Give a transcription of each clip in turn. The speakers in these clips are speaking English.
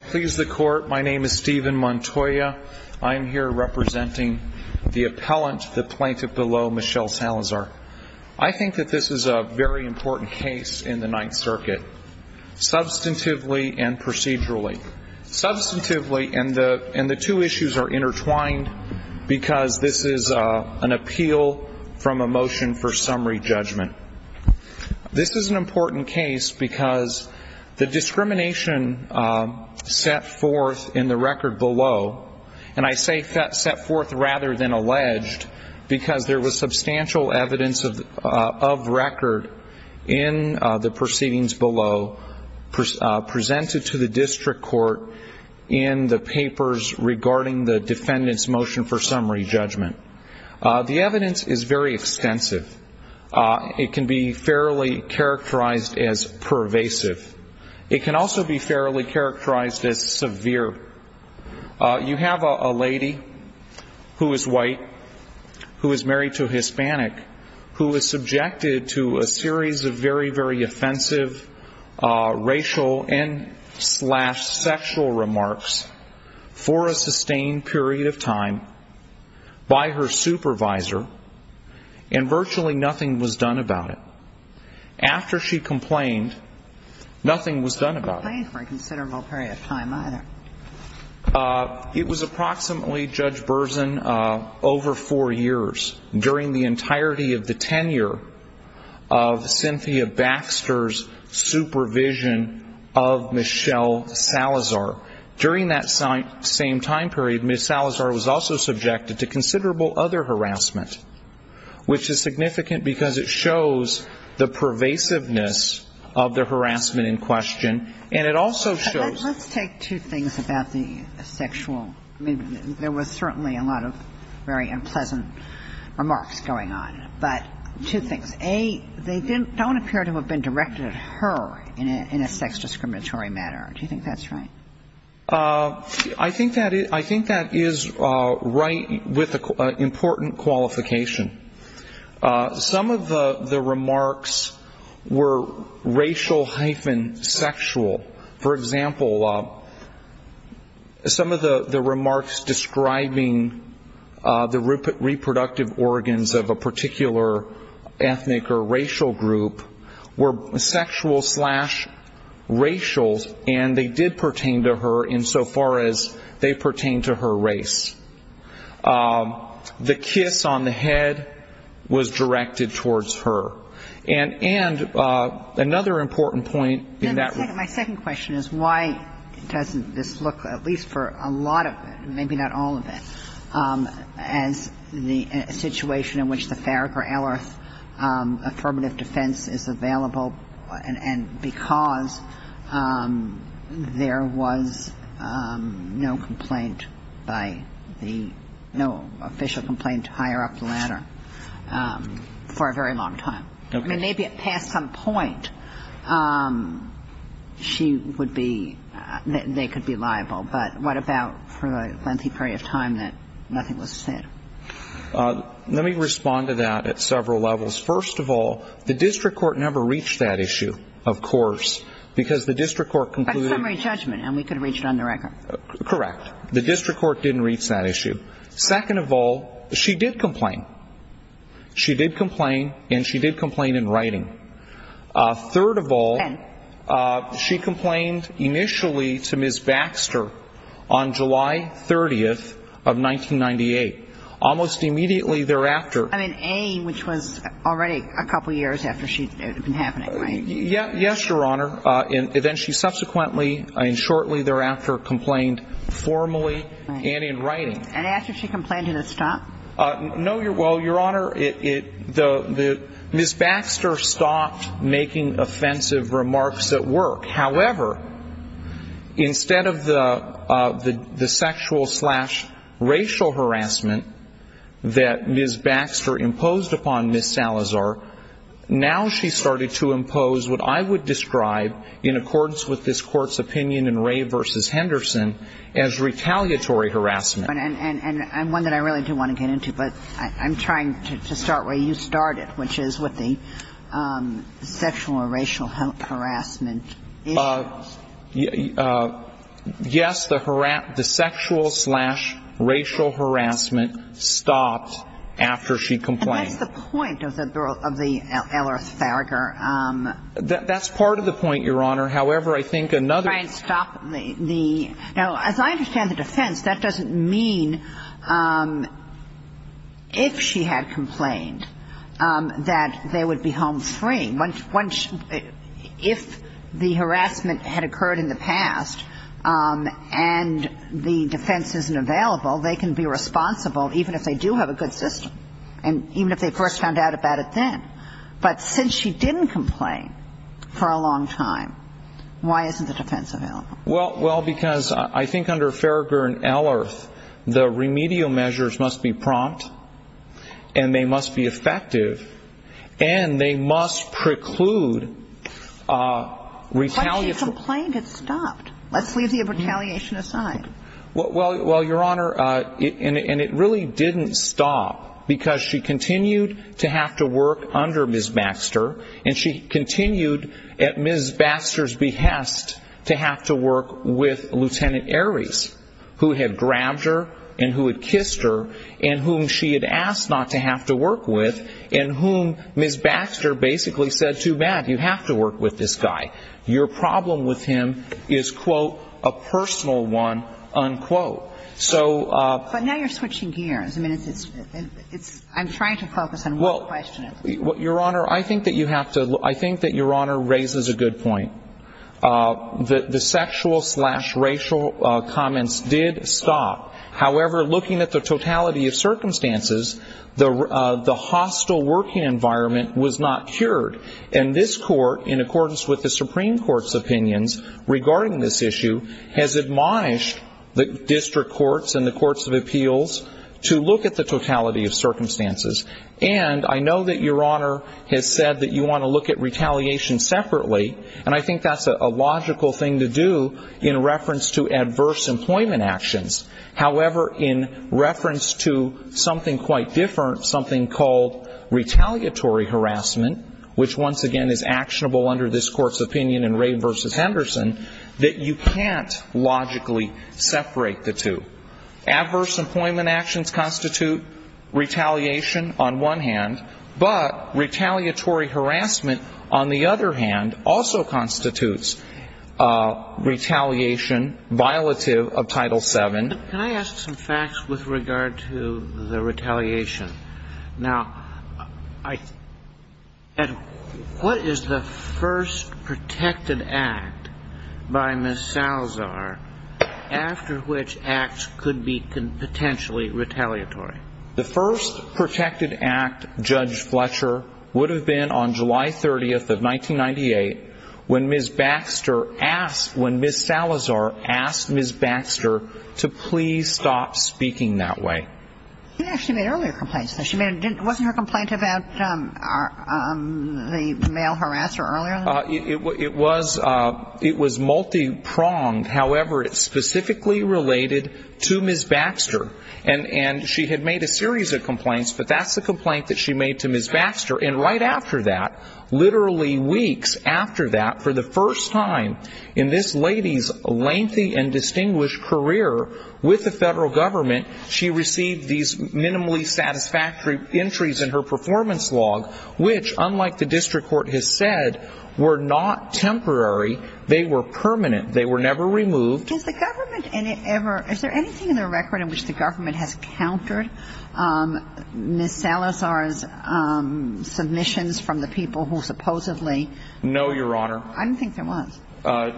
Please the court, my name is Steven Montoya. I'm here representing the appellant, the plaintiff below, Michelle Salazar. I think that this is a very important case in the Ninth Circuit, substantively and procedurally. Substantively, and the two issues are intertwined because this is an appeal from a motion for summary judgment. This is an important case because the discrimination set forth in the record below, and I say set forth rather than alleged, because there was substantial evidence of record in the proceedings below, presented to the district court in the papers regarding the case. It can be fairly characterized as pervasive. It can also be fairly characterized as severe. You have a lady who is white, who is married to a Hispanic, who is subjected to a series of very, very offensive racial and slash sexual remarks for a sustained period of time by her supervisor, and virtually nothing was done about it. After she complained, nothing was done about it. I didn't complain for a considerable period of time either. It was approximately, Judge Berzin, over four years, during the entirety of the tenure of Cynthia Baxter's supervision of Michelle Salazar. During that same time period, Michelle Salazar was also subjected to considerable other harassment, which is significant because it shows the pervasiveness of the harassment in question, and it also shows... Let's take two things about the sexual. I mean, there was certainly a lot of very unpleasant remarks going on, but two things. A, they don't appear to have been directed at her in a sex-discriminatory manner. Do you think that's right? I think that is right with important qualification. Some of the remarks were racial-sexual. For example, some of the remarks describing the reproductive organs of a particular ethnic or racial group were sexual-slash-racial, and they did pertain to her insofar as they pertained to her race. The kiss on the head was directed towards her. And another important point in that... My second question is why doesn't this look, at least for a lot of it, maybe not all of it, as the situation in which the Farragher-Ellerth affirmative defense is available, and because there was no complaint by the no official complaint to hire up the latter for a very long time? I mean, maybe at past some point she would be, they could be liable, but what about for a lengthy period of time that nothing was said? Let me respond to that at several levels. First of all, the district court never reached that issue, of course, because the district court concluded... That's summary judgment, and we could reach it on the record. Correct. The district court didn't reach that issue. Second of all, she did complain. She did complain, and she did complain in writing. Third of all, she complained initially to Ms. Baxter on July 30th of 1998. Almost immediately thereafter... I mean, A, which was already a couple years after it had been happening, right? Yes, Your Honor. And then she subsequently and shortly thereafter complained formally and in writing. And after she complained, did it stop? No, Your Honor. Ms. Baxter stopped making offensive remarks at work. However, instead of the sexual slash racial harassment that Ms. Baxter imposed upon Ms. Salazar, now she started to impose what I would describe in accordance with this court's opinion in Ray v. Henderson as retaliatory harassment. And one that I really do want to get into, but I'm trying to start where you started, which is with the sexual or racial harassment issues. Yes, the sexual slash racial harassment stopped after she complained. And that's the point of the Ellerth-Faragher. That's part of the point, Your Honor. However, I think another... Let me try and stop the... Now, as I understand the defense, that doesn't mean if she had complained that they would be home free. If the harassment had occurred in the past and the defense isn't available, they can be responsible even if they do have a good system, and even if they first found out about it then. Well, because I think under Faragher and Ellerth, the remedial measures must be prompt, and they must be effective, and they must preclude retaliation. But she complained, it stopped. Let's leave the retaliation aside. Well, Your Honor, and it really didn't stop, because she continued to have to work under Ms. Baxter, and she continued, at Ms. Baxter's behest, to have to work with Lt. Ares, who had grabbed her and who had kissed her, and whom she had asked not to have to work with, and whom Ms. Baxter basically said, too bad, you have to work with this guy. Your problem with him is, quote, a personal one, unquote. But now you're switching gears. I mean, I'm trying to focus on one question at a time. Your Honor, I think that Your Honor raises a good point. The sexual-slash-racial comments did stop. However, looking at the totality of circumstances, the hostile working environment was not cured. And this Court, in accordance with the Supreme Court's opinions regarding this issue, has admonished the district courts and the courts of appeals to look at the totality of circumstances. And I know that Your Honor has said that you want to look at retaliation separately, and I think that's a logical thing to do in reference to adverse employment actions. However, in reference to something quite different, something called retaliatory harassment, which once again is actionable under this Court's opinion in Ray v. Henderson, that you can't logically separate the two. Adverse employment actions constitute retaliation on one hand, but retaliatory harassment, on the other hand, also constitutes retaliation violative of Title VII. Can I ask some facts with regard to the retaliation? Now, what is the first protected act by Ms. Salazar after which acts could be potentially retaliatory? The first protected act, Judge Fletcher, would have been on July 30th of 1998 when Ms. Salazar asked Ms. Baxter to please stop speaking that way. She made earlier complaints, though. Wasn't her complaint about the male harasser earlier? It was multi-pronged. However, it's specifically related to Ms. Baxter. And she had made a series of complaints, but that's the complaint that she made to Ms. Baxter. And right after that, literally weeks after that, for the first time in this lady's lengthy and distinguished career with the federal government, she received these minimally satisfactory entries in her performance log, which, unlike the district court has said, were not temporary. They were permanent. They were never removed. Is there anything in the record in which the government has countered Ms. Salazar's submissions from the people who supposedly I don't think there was.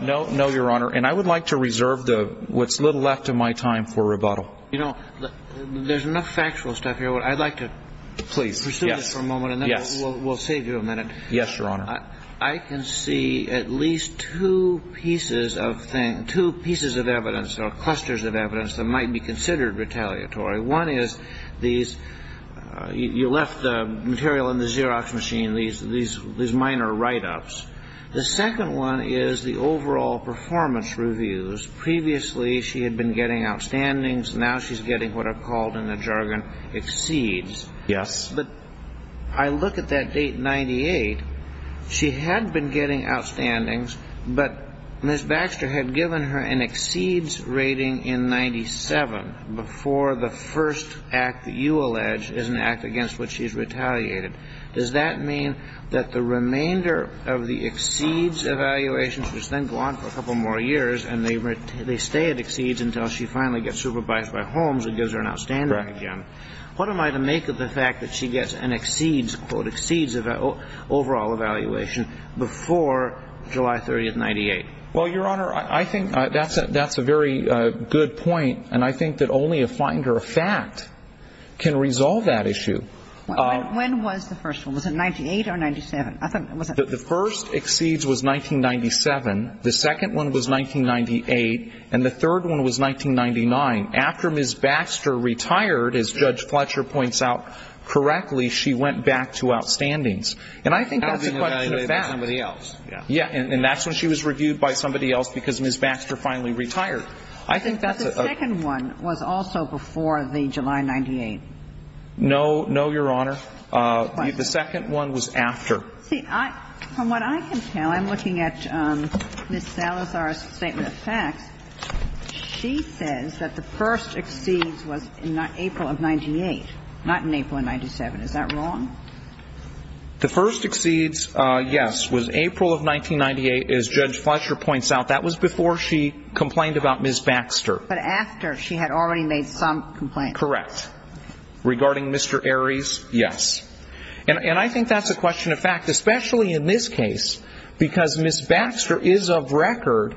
No, Your Honor. And I would like to reserve what's little left of my time for rebuttal. There's enough factual stuff here. I'd like to pursue this for a moment, and then we'll save you a minute. Yes, Your Honor. I can see at least two pieces of evidence or clusters of evidence that might be considered retaliatory. One is you left the material in the Xerox machine, these minor write-ups. The second one is the overall performance reviews. Previously she had been getting outstandings. Now she's getting what are called in the jargon exceeds. Yes. But I look at that date, 98. She had been getting outstandings, but Ms. Baxter had given her an exceeds rating in 97 before the first act that you allege is an act against which she's retaliated. Does that mean that the remainder of the exceeds evaluation, she was then gone for a couple more years, and the remainder of the exceeds and the remainder of the outstandings, that she didn't get, they stay at exceeds until she finally gets supervised by Holmes and gives her an outstanding exam? What am I to make of the fact that she gets an exceeds, quote, exceeds overall evaluation before July 30, 98? Well, Your Honor, I think that's a very good point. And I think that only a finder of fact can resolve that issue. When was the first one? Was it 98 or 97? The first exceeds was 1997. The second one was 1998. And the third one was 1999. After Ms. Baxter retired, as Judge Fletcher points out correctly, she went back to outstandings. And I think that's a question of fact. And that's when she was reviewed by somebody else because Ms. Baxter finally retired. I think that the second one was also before the July 98. No, no, Your Honor. The second one was after. See, from what I can tell, I'm looking at Ms. Salazar's statement of facts. She says that the first exceeds was in April of 98, not in April of 97. Is that wrong? The first exceeds, yes, was April of 1998. As Judge Fletcher points out, that was before she complained about Ms. Baxter. But after she had already made some complaints. Correct. Regarding Mr. Aries, yes. And I think that's a question of fact, especially in this case, because Ms. Baxter is of record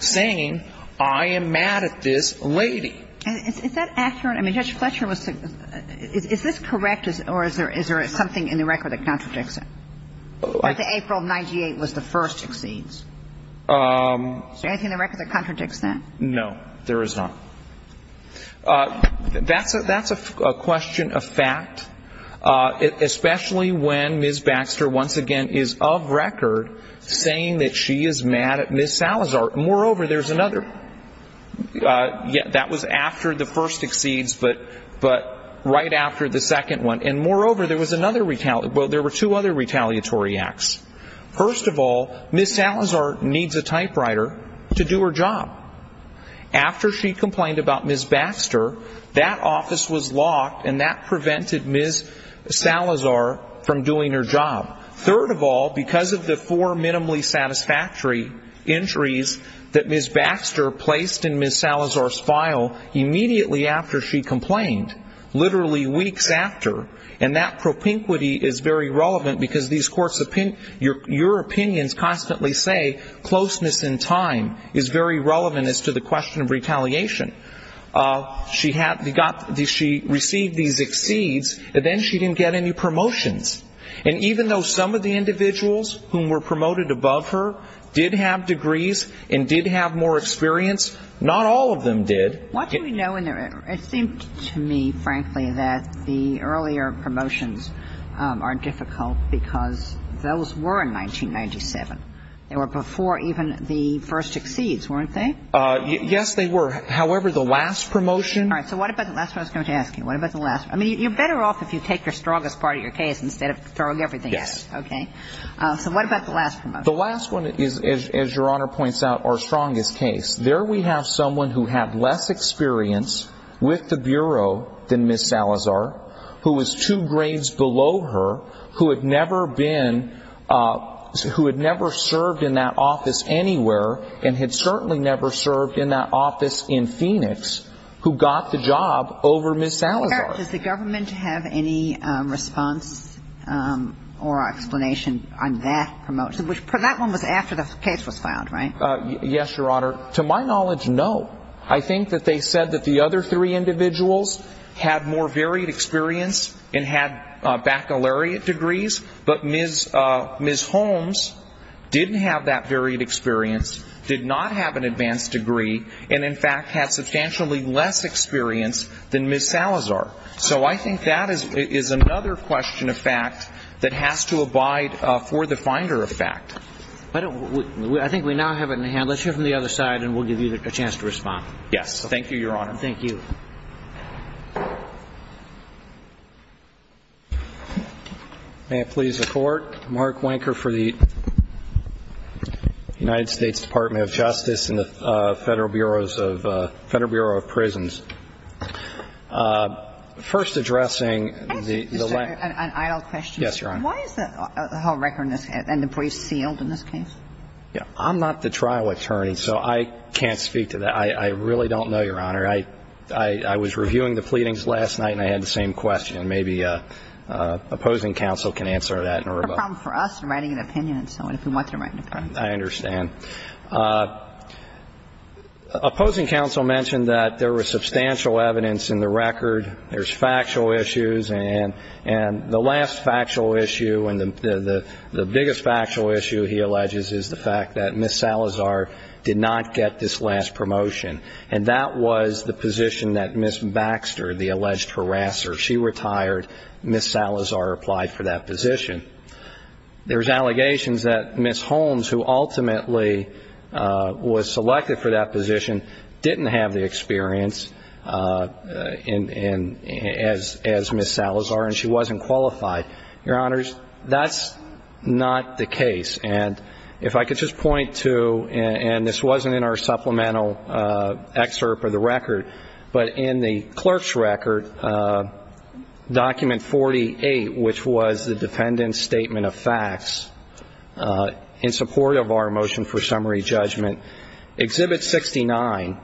saying, I am mad at this lady. Is that accurate? I mean, Judge Fletcher was the – is this correct, or is there something in the record that contradicts it? That the April of 98 was the first exceeds. Is there anything in the record that contradicts that? No, there is not. That's a question of fact, especially when Ms. Baxter once again is of record saying that she is mad at Ms. Salazar. Moreover, there's another – yeah, that was after the first exceeds, but right after the second one. And moreover, there was another – well, there were two other retaliatory acts. First of all, Ms. Salazar needs a typewriter to do her job. After she complained about Ms. Baxter, that office was locked, and that prevented Ms. Salazar from doing her job. Third of all, because of the four minimally satisfactory injuries that Ms. Baxter placed in Ms. Salazar's file immediately after she complained, literally weeks after, and that propinquity is very relevant, because these courts – your opinions constantly say closeness in time is very relevant as to the question of retaliation. She received these exceeds, and then she didn't get any promotions. And even though Salazar was of record saying that she was mad at Ms. Baxter, she didn't get any promotions. Some of the individuals who were promoted above her did have degrees and did have more experience. Not all of them did. What do we know in the – it seemed to me, frankly, that the earlier promotions are difficult because those were in 1997. They were before even the first exceeds, weren't they? Yes, they were. However, the last promotion – The last one is, as Your Honor points out, our strongest case. There we have someone who had less experience with the Bureau than Ms. Salazar, who was two grades below her, who had never been – who had never served in that office anywhere, and had certainly never served in that office in Phoenix, who got the job over Ms. Salazar. Does the government have any response or explanation on that promotion? That one was after the case was filed, right? Yes, Your Honor. To my knowledge, no. I think that they said that the other three individuals had more varied experience and had baccalaureate degrees, but Ms. Holmes didn't have that varied experience, did not have an advanced degree, and in fact had substantially less experience than Ms. Salazar. So I think that is another question of fact that has to abide for the finder of fact. I think we now have it in the hand. Let's hear from the other side, and we'll give you a chance to respond. Yes. Thank you, Your Honor. Thank you. May it please the Court. Mark Wanker for the United States Department of Justice and the Federal Bureau of Prisons. First addressing the – Can I ask you an idle question? Yes, Your Honor. Why is the whole record in this – and the brief sealed in this case? I'm not the trial attorney, so I can't speak to that. I really don't know, Your Honor. I was reviewing the pleadings last night, and I had the same question. Maybe opposing counsel can answer that in a rebuttal. It's a problem for us in writing an opinion and so on, if we want to write an opinion. I understand. Opposing counsel mentioned that there was substantial evidence in the record. There's factual issues. And the last factual issue and the biggest factual issue, he alleges, is the fact that Ms. Salazar did not get this last promotion. And that was the position that Ms. Baxter, the alleged harasser, she retired. Ms. Salazar applied for that position. There's allegations that Ms. Holmes, who ultimately was selected for that position, didn't have the experience as Ms. Salazar, and she wasn't qualified. Your Honors, that's not the case. And if I could just point to, and this wasn't in our supplemental excerpt of the record, but in the clerk's record, document 48, which was the defendant's statement of facts in support of our motion for summary judgment, Exhibit 69,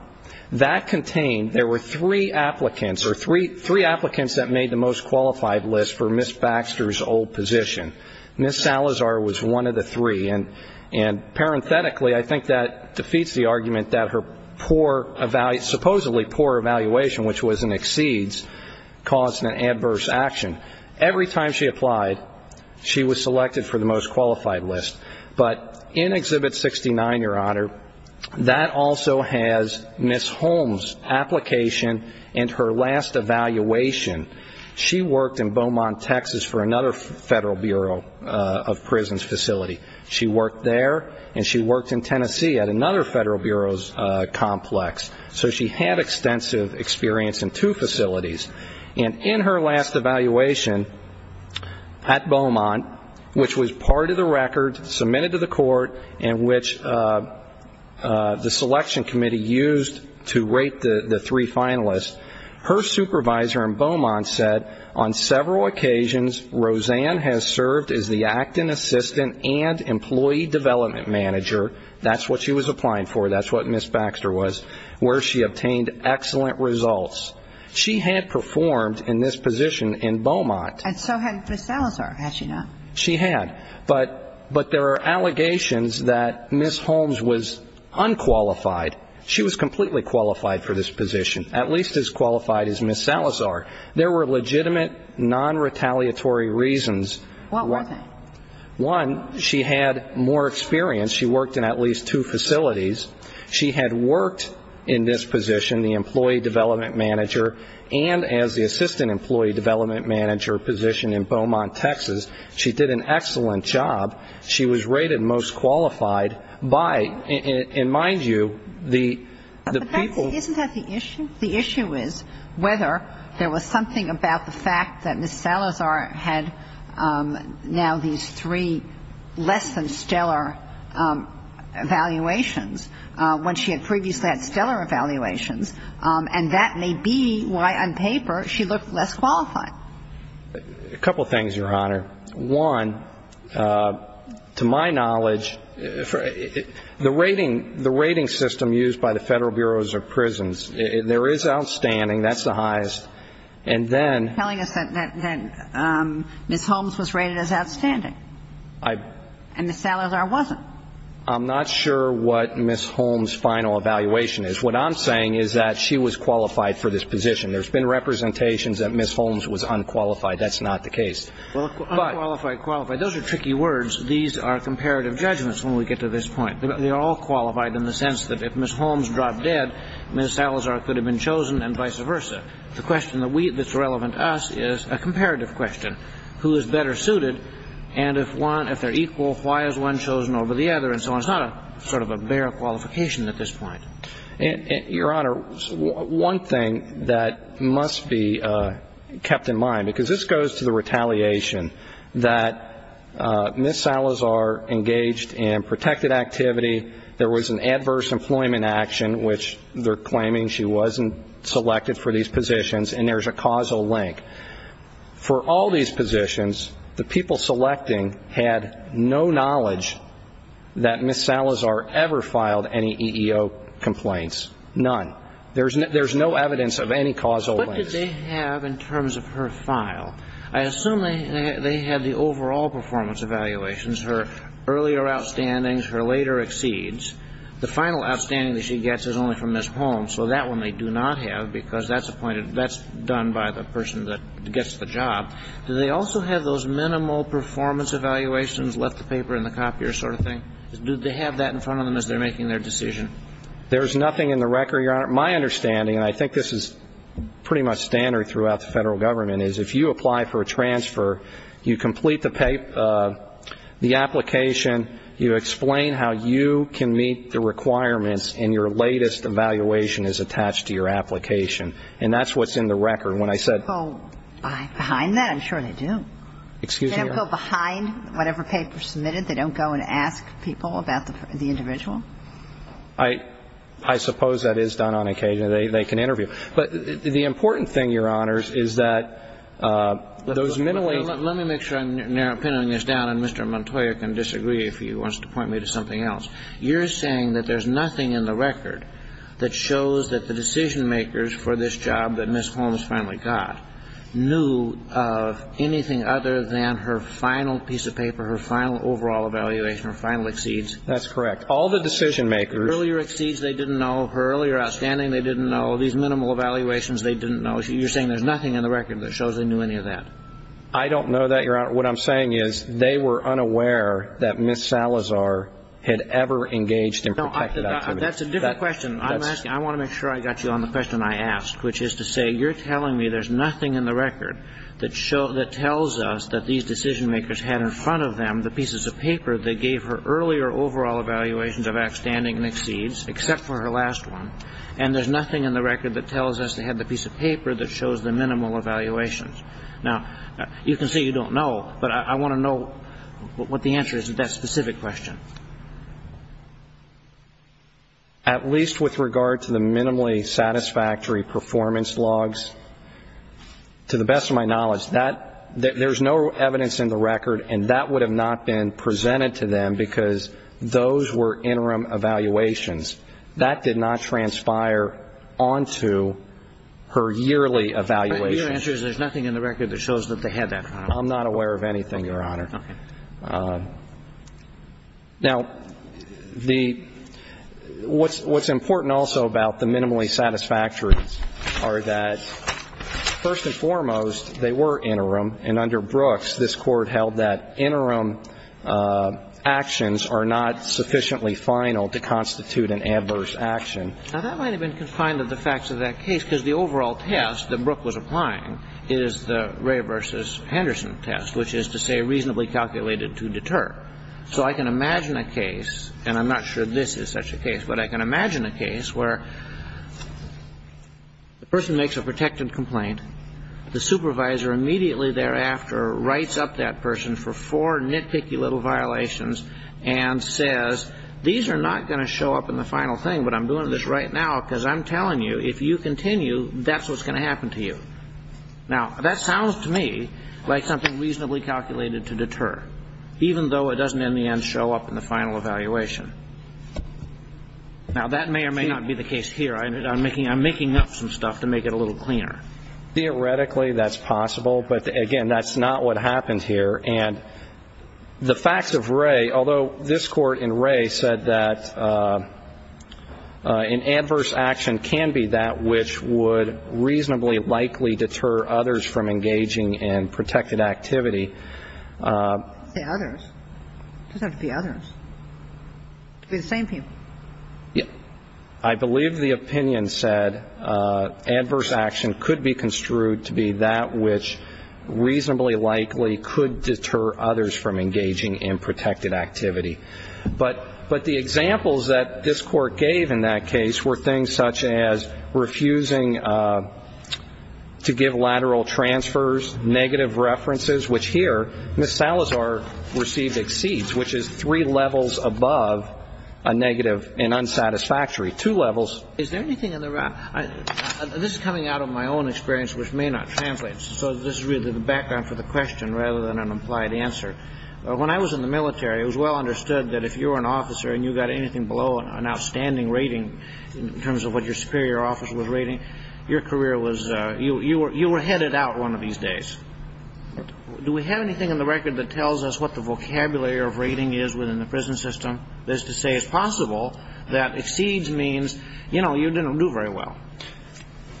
that contained there were three applicants or three applicants that made the most qualified list for Ms. Baxter's old position. Ms. Salazar was one of the three. And parenthetically, I think that defeats the argument that her poor, supposedly poor evaluation, which was an exceeds, caused an adverse action. Every time she applied, she was selected for the most qualified list. But in Exhibit 69, Your Honor, that also has Ms. Holmes' application and her last evaluation. She worked in Beaumont, Texas, for another Federal Bureau of Prisons facility. She worked there, and she worked in Tennessee at another Federal Bureau's complex. So she had extensive experience in two facilities. And in her last evaluation at Beaumont, which was part of the record submitted to the court, in which the selection committee used to rate the three finalists, her supervisor in Beaumont said, on several occasions, Roseanne has served as the acting assistant and employee development manager. That's what she was applying for. That's what Ms. Baxter was, where she obtained excellent results. She had performed in this position in Beaumont. And so had Ms. Salazar, had she not? She had. But there are allegations that Ms. Holmes was unqualified. She was completely qualified for this position, at least as qualified as Ms. Salazar. There were legitimate, non-retaliatory reasons. What were they? One, she had more experience. She worked in at least two facilities. She had worked in this position, the employee development manager, and as the assistant employee development manager position in Beaumont, Texas. She did an excellent job. She was rated most qualified by, and mind you, the people. Isn't that the issue? The issue is whether there was something about the fact that Ms. Salazar had now these three less than stellar evaluations, when she had previously had stellar evaluations, and that may be why, on paper, she looked less qualified. A couple things, Your Honor. One, to my knowledge, the rating system used by the Federal Bureaus of Prisons, there is outstanding. That's the highest. And then ---- You're telling us that Ms. Holmes was rated as outstanding. I ---- And Ms. Salazar wasn't. I'm not sure what Ms. Holmes' final evaluation is. What I'm saying is that she was qualified for this position. There's been representations that Ms. Holmes was unqualified. That's not the case. Unqualified, qualified. Those are tricky words. These are comparative judgments when we get to this point. They are all qualified in the sense that if Ms. Holmes dropped dead, Ms. Salazar could have been chosen and vice versa. The question that's relevant to us is a comparative question. Who is better suited? And if they're equal, why is one chosen over the other? And so it's not a sort of a bare qualification at this point. Your Honor, one thing that must be kept in mind, because this goes to the retaliation that Ms. Salazar engaged in protected activity, there was an adverse employment action, which they're claiming she wasn't selected for these positions, and there's a causal link. For all these positions, the people selecting had no knowledge that Ms. Salazar ever filed any EEO complaints. None. There's no evidence of any causal links. What did they have in terms of her file? I assume they had the overall performance evaluations, her earlier outstandings, her later exceeds. The final outstanding that she gets is only from Ms. Holmes. So that one they do not have, because that's appointed, that's done by the person that gets the job. Do they also have those minimal performance evaluations, left the paper in the copier sort of thing? Do they have that in front of them as they're making their decision? There's nothing in the record, Your Honor. My understanding, and I think this is pretty much standard throughout the federal government, is if you apply for a transfer, you complete the application, you explain how you can meet the requirements, and your latest evaluation is attached to your application. And that's what's in the record. When I said – Do they have a poll behind that? I'm sure they do. Excuse me, Your Honor? Do they have a poll behind whatever paper is submitted? They don't go and ask people about the individual? I suppose that is done on occasion. They can interview. But the important thing, Your Honor, is that those minimal – Well, let me make sure I'm narrowing this down, and Mr. Montoya can disagree if he wants to point me to something else. You're saying that there's nothing in the record that shows that the decision makers for this job that Ms. Holmes finally got knew of anything other than her final piece of paper, her final overall evaluation, her final exceeds? That's correct. All the decision makers – Her earlier exceeds they didn't know, her earlier outstanding they didn't know, these minimal evaluations they didn't know. You're saying there's nothing in the record that shows they knew any of that? I don't know that, Your Honor. What I'm saying is they were unaware that Ms. Salazar had ever engaged in protected activity. That's a different question. I want to make sure I got you on the question I asked, which is to say you're telling me there's nothing in the record that tells us that these decision makers had in front of them the pieces of paper that gave her earlier overall evaluations of outstanding and exceeds, except for her last one, and there's nothing in the record that tells us they had the piece of paper that shows the minimal evaluations. Now, you can say you don't know, but I want to know what the answer is to that specific question. At least with regard to the minimally satisfactory performance logs, to the best of my knowledge, there's no evidence in the record and that would have not been presented to them because those were interim evaluations. That did not transpire onto her yearly evaluations. Your answer is there's nothing in the record that shows that they had that. I'm not aware of anything, Your Honor. Okay. Now, the – what's important also about the minimally satisfactory are that, first and foremost, they were interim, and under Brooks, this Court held that interim actions are not sufficiently final to constitute an adverse action. Now, that might have been confined to the facts of that case because the overall test that Brooks was applying is the Ray v. Henderson test, which is to say reasonably calculated to deter. So I can imagine a case, and I'm not sure this is such a case, but I can imagine a case where the person makes a protectant complaint. The supervisor immediately thereafter writes up that person for four nitpicky little violations and says, these are not going to show up in the final thing, but I'm doing this right now because I'm telling you, if you continue, that's what's going to happen to you. Now, that sounds to me like something reasonably calculated to deter, even though it doesn't in the end show up in the final evaluation. Now, that may or may not be the case here. I'm making up some stuff to make it a little cleaner. Theoretically, that's possible, but, again, that's not what happens here. And the facts of Ray, although this Court in Ray said that an adverse action can be that which would reasonably likely deter others from engaging in protected activity. Say others? It doesn't have to be others. It could be the same people. Yeah. I believe the opinion said adverse action could be construed to be that which reasonably likely could deter others from engaging in protected activity. But the examples that this Court gave in that case were things such as refusing to give lateral transfers, negative references, which here Ms. Salazar received exceeds, which is three levels above a negative and unsatisfactory. Two levels. Is there anything in the record? This is coming out of my own experience, which may not translate. So this is really the background for the question rather than an implied answer. When I was in the military, it was well understood that if you were an officer and you got anything below an outstanding rating in terms of what your superior officer was rating, your career was you were headed out one of these days. Do we have anything in the record that tells us what the vocabulary of rating is within the prison system? That is to say, it's possible that exceeds means, you know, you didn't do very well.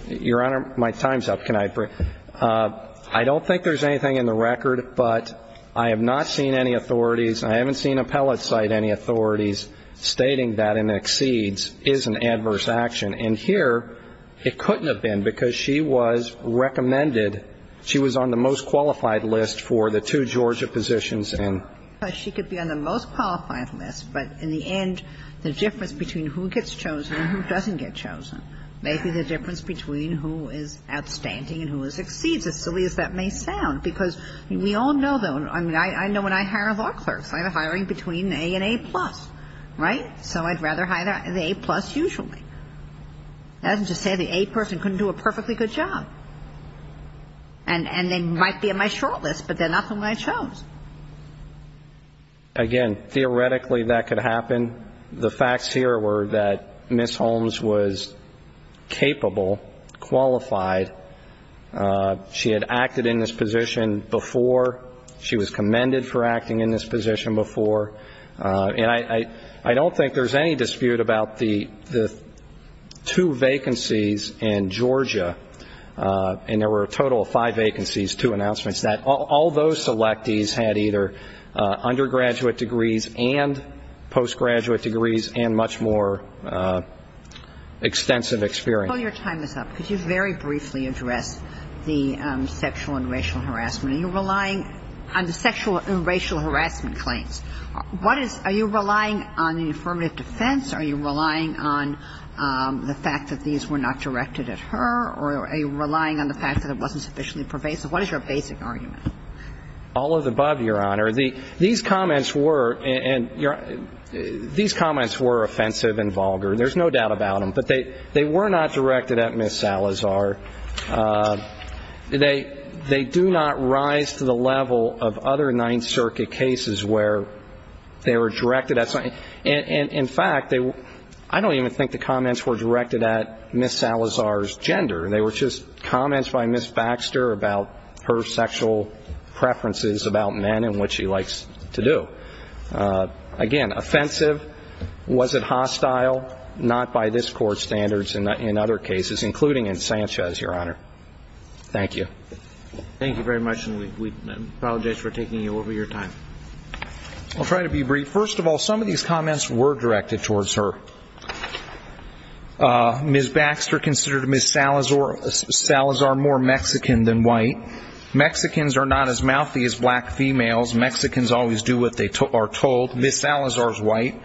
Your Honor, my time's up. Can I bring up? I don't think there's anything in the record, but I have not seen any authorities and I haven't seen appellate cite any authorities stating that an exceeds is an adverse action. And here it couldn't have been because she was recommended, she was on the most qualified list for the two Georgia positions and she could be on the most qualified list. But in the end, the difference between who gets chosen and who doesn't get chosen may be the difference between who is outstanding and who is exceeds, as silly as that may sound. Because we all know that. I mean, I know when I hire law clerks, I have a hiring between A and A plus, right? So I'd rather hire the A plus usually. That doesn't just say the A person couldn't do a perfectly good job. And they might be on my short list, but they're not the one I chose. Again, theoretically, that could happen. The facts here were that Ms. Holmes was capable, qualified. She had acted in this position before. She was commended for acting in this position before. And I don't think there's any dispute about the two vacancies in Georgia, and there were a total of five vacancies, two announcements, that all those selectees had either undergraduate degrees and postgraduate degrees and much more extensive experience. While your time is up, could you very briefly address the sexual and racial harassment? Are you relying on the sexual and racial harassment claims? Are you relying on the affirmative defense? Are you relying on the fact that these were not directed at her? Or are you relying on the fact that it wasn't sufficiently pervasive? What is your basic argument? All of the above, Your Honor. These comments were offensive and vulgar. There's no doubt about them. But they were not directed at Ms. Salazar. They do not rise to the level of other Ninth Circuit cases where they were directed at something. In fact, I don't even think the comments were directed at Ms. Salazar's gender. They were just comments by Ms. Baxter about her sexual preferences about men and what she likes to do. Again, offensive. Was it hostile? Not by this Court's standards in other cases, including in Sanchez, Your Honor. Thank you. Thank you very much, and we apologize for taking you over your time. I'll try to be brief. First of all, some of these comments were directed towards her. Ms. Baxter considered Ms. Salazar more Mexican than white. Mexicans are not as mouthy as black females. Mexicans always do what they are told. Ms. Salazar is white.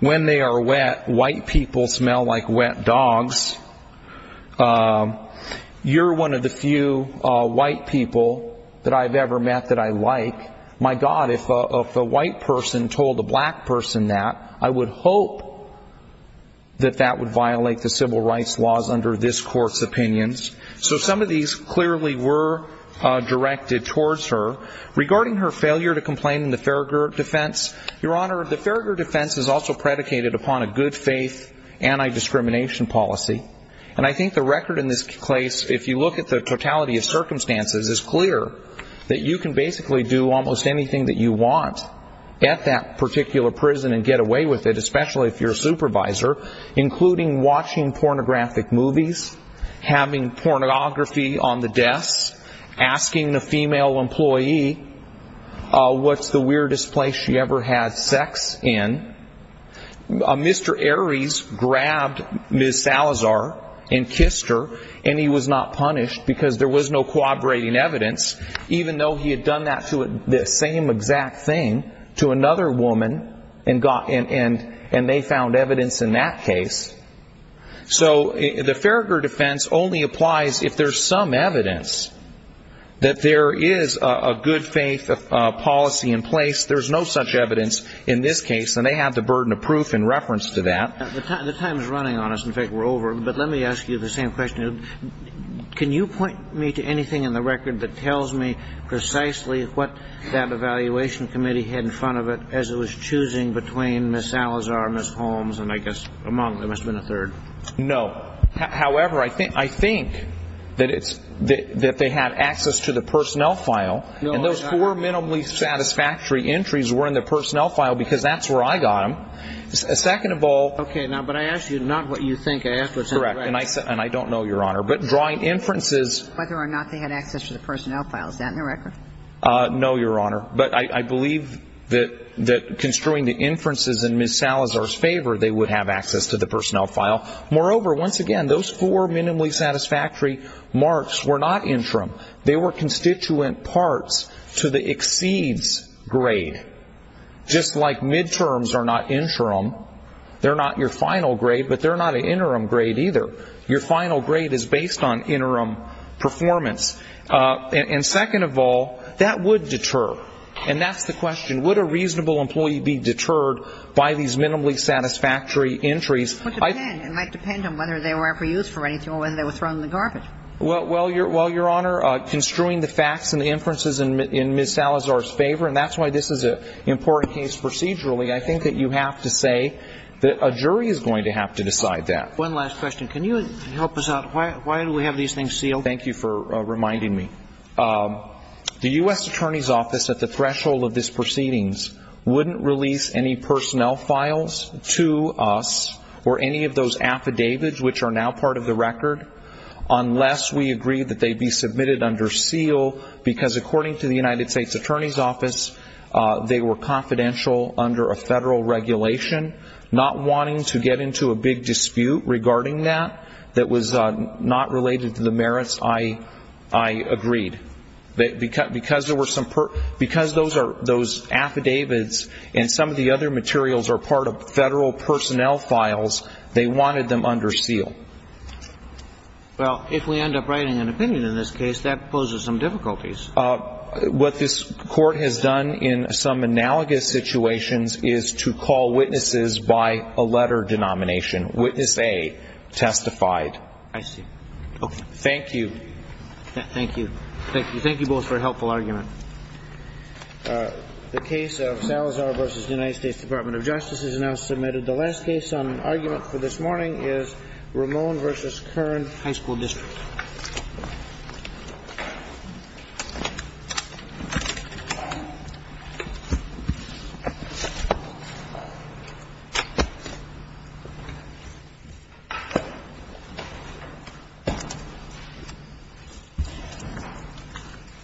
When they are wet, white people smell like wet dogs. You're one of the few white people that I've ever met that I like. My God, if a white person told a black person that, I would hope that that would violate the civil rights laws under this Court's opinions. So some of these clearly were directed towards her. Regarding her failure to complain in the Farragher defense, Your Honor, the Farragher defense is also predicated upon a good-faith anti-discrimination policy. And I think the record in this case, if you look at the totality of circumstances, is clear that you can basically do almost anything that you want at that particular prison and get away with it, especially if you're a supervisor, including watching pornographic movies, having pornography on the desk, asking the female employee what's the weirdest place she ever had sex in. Mr. Aries grabbed Ms. Salazar and kissed her, and he was not punished because there was no corroborating evidence, even though he had done the same exact thing to another woman and they found evidence in that case. So the Farragher defense only applies if there's some evidence that there is a good-faith policy in place. There's no such evidence in this case, and they have the burden of proof in reference to that. The time is running on us. In fact, we're over. But let me ask you the same question. Can you point me to anything in the record that tells me precisely what that evaluation committee had in front of it as it was choosing between Ms. Salazar and Ms. Holmes, and I guess among them there must have been a third. No. However, I think that they had access to the personnel file, and those four minimally satisfactory entries were in the personnel file because that's where I got them. Second of all. Okay. Now, but I asked you not what you think. I asked what's in the record. Correct. And I don't know, Your Honor. But drawing inferences. Whether or not they had access to the personnel file. Is that in the record? No, Your Honor. But I believe that construing the inferences in Ms. Salazar's favor, they would have access to the personnel file. Moreover, once again, those four minimally satisfactory marks were not interim. They were constituent parts to the exceeds grade. Just like midterms are not interim, they're not your final grade, but they're not an interim grade either. Your final grade is based on interim performance. And second of all, that would deter. And that's the question. Would a reasonable employee be deterred by these minimally satisfactory entries? It might depend on whether they were ever used for anything or whether they were thrown in the garbage. Well, Your Honor, construing the facts and the inferences in Ms. Salazar's favor, and that's why this is an important case procedurally, I think that you have to say that a jury is going to have to decide that. One last question. Can you help us out? Why do we have these things sealed? Thank you for reminding me. The U.S. Attorney's Office, at the threshold of these proceedings, wouldn't release any personnel files to us or any of those affidavits, which are now part of the record, unless we agree that they be submitted under seal. Because according to the United States Attorney's Office, they were confidential under a federal regulation. Not wanting to get into a big dispute regarding that that was not related to the merits, I agreed. Because those affidavits and some of the other materials are part of federal personnel files, they wanted them under seal. Well, if we end up writing an opinion in this case, that poses some difficulties. What this Court has done in some analogous situations is to call witnesses by a letter denomination. Witness A testified. I see. Okay. Thank you. Thank you. Thank you. Thank you both for a helpful argument. The case of Salazar v. United States Department of Justice is now submitted. The last case on argument for this morning is Ramon v. Kern High School District.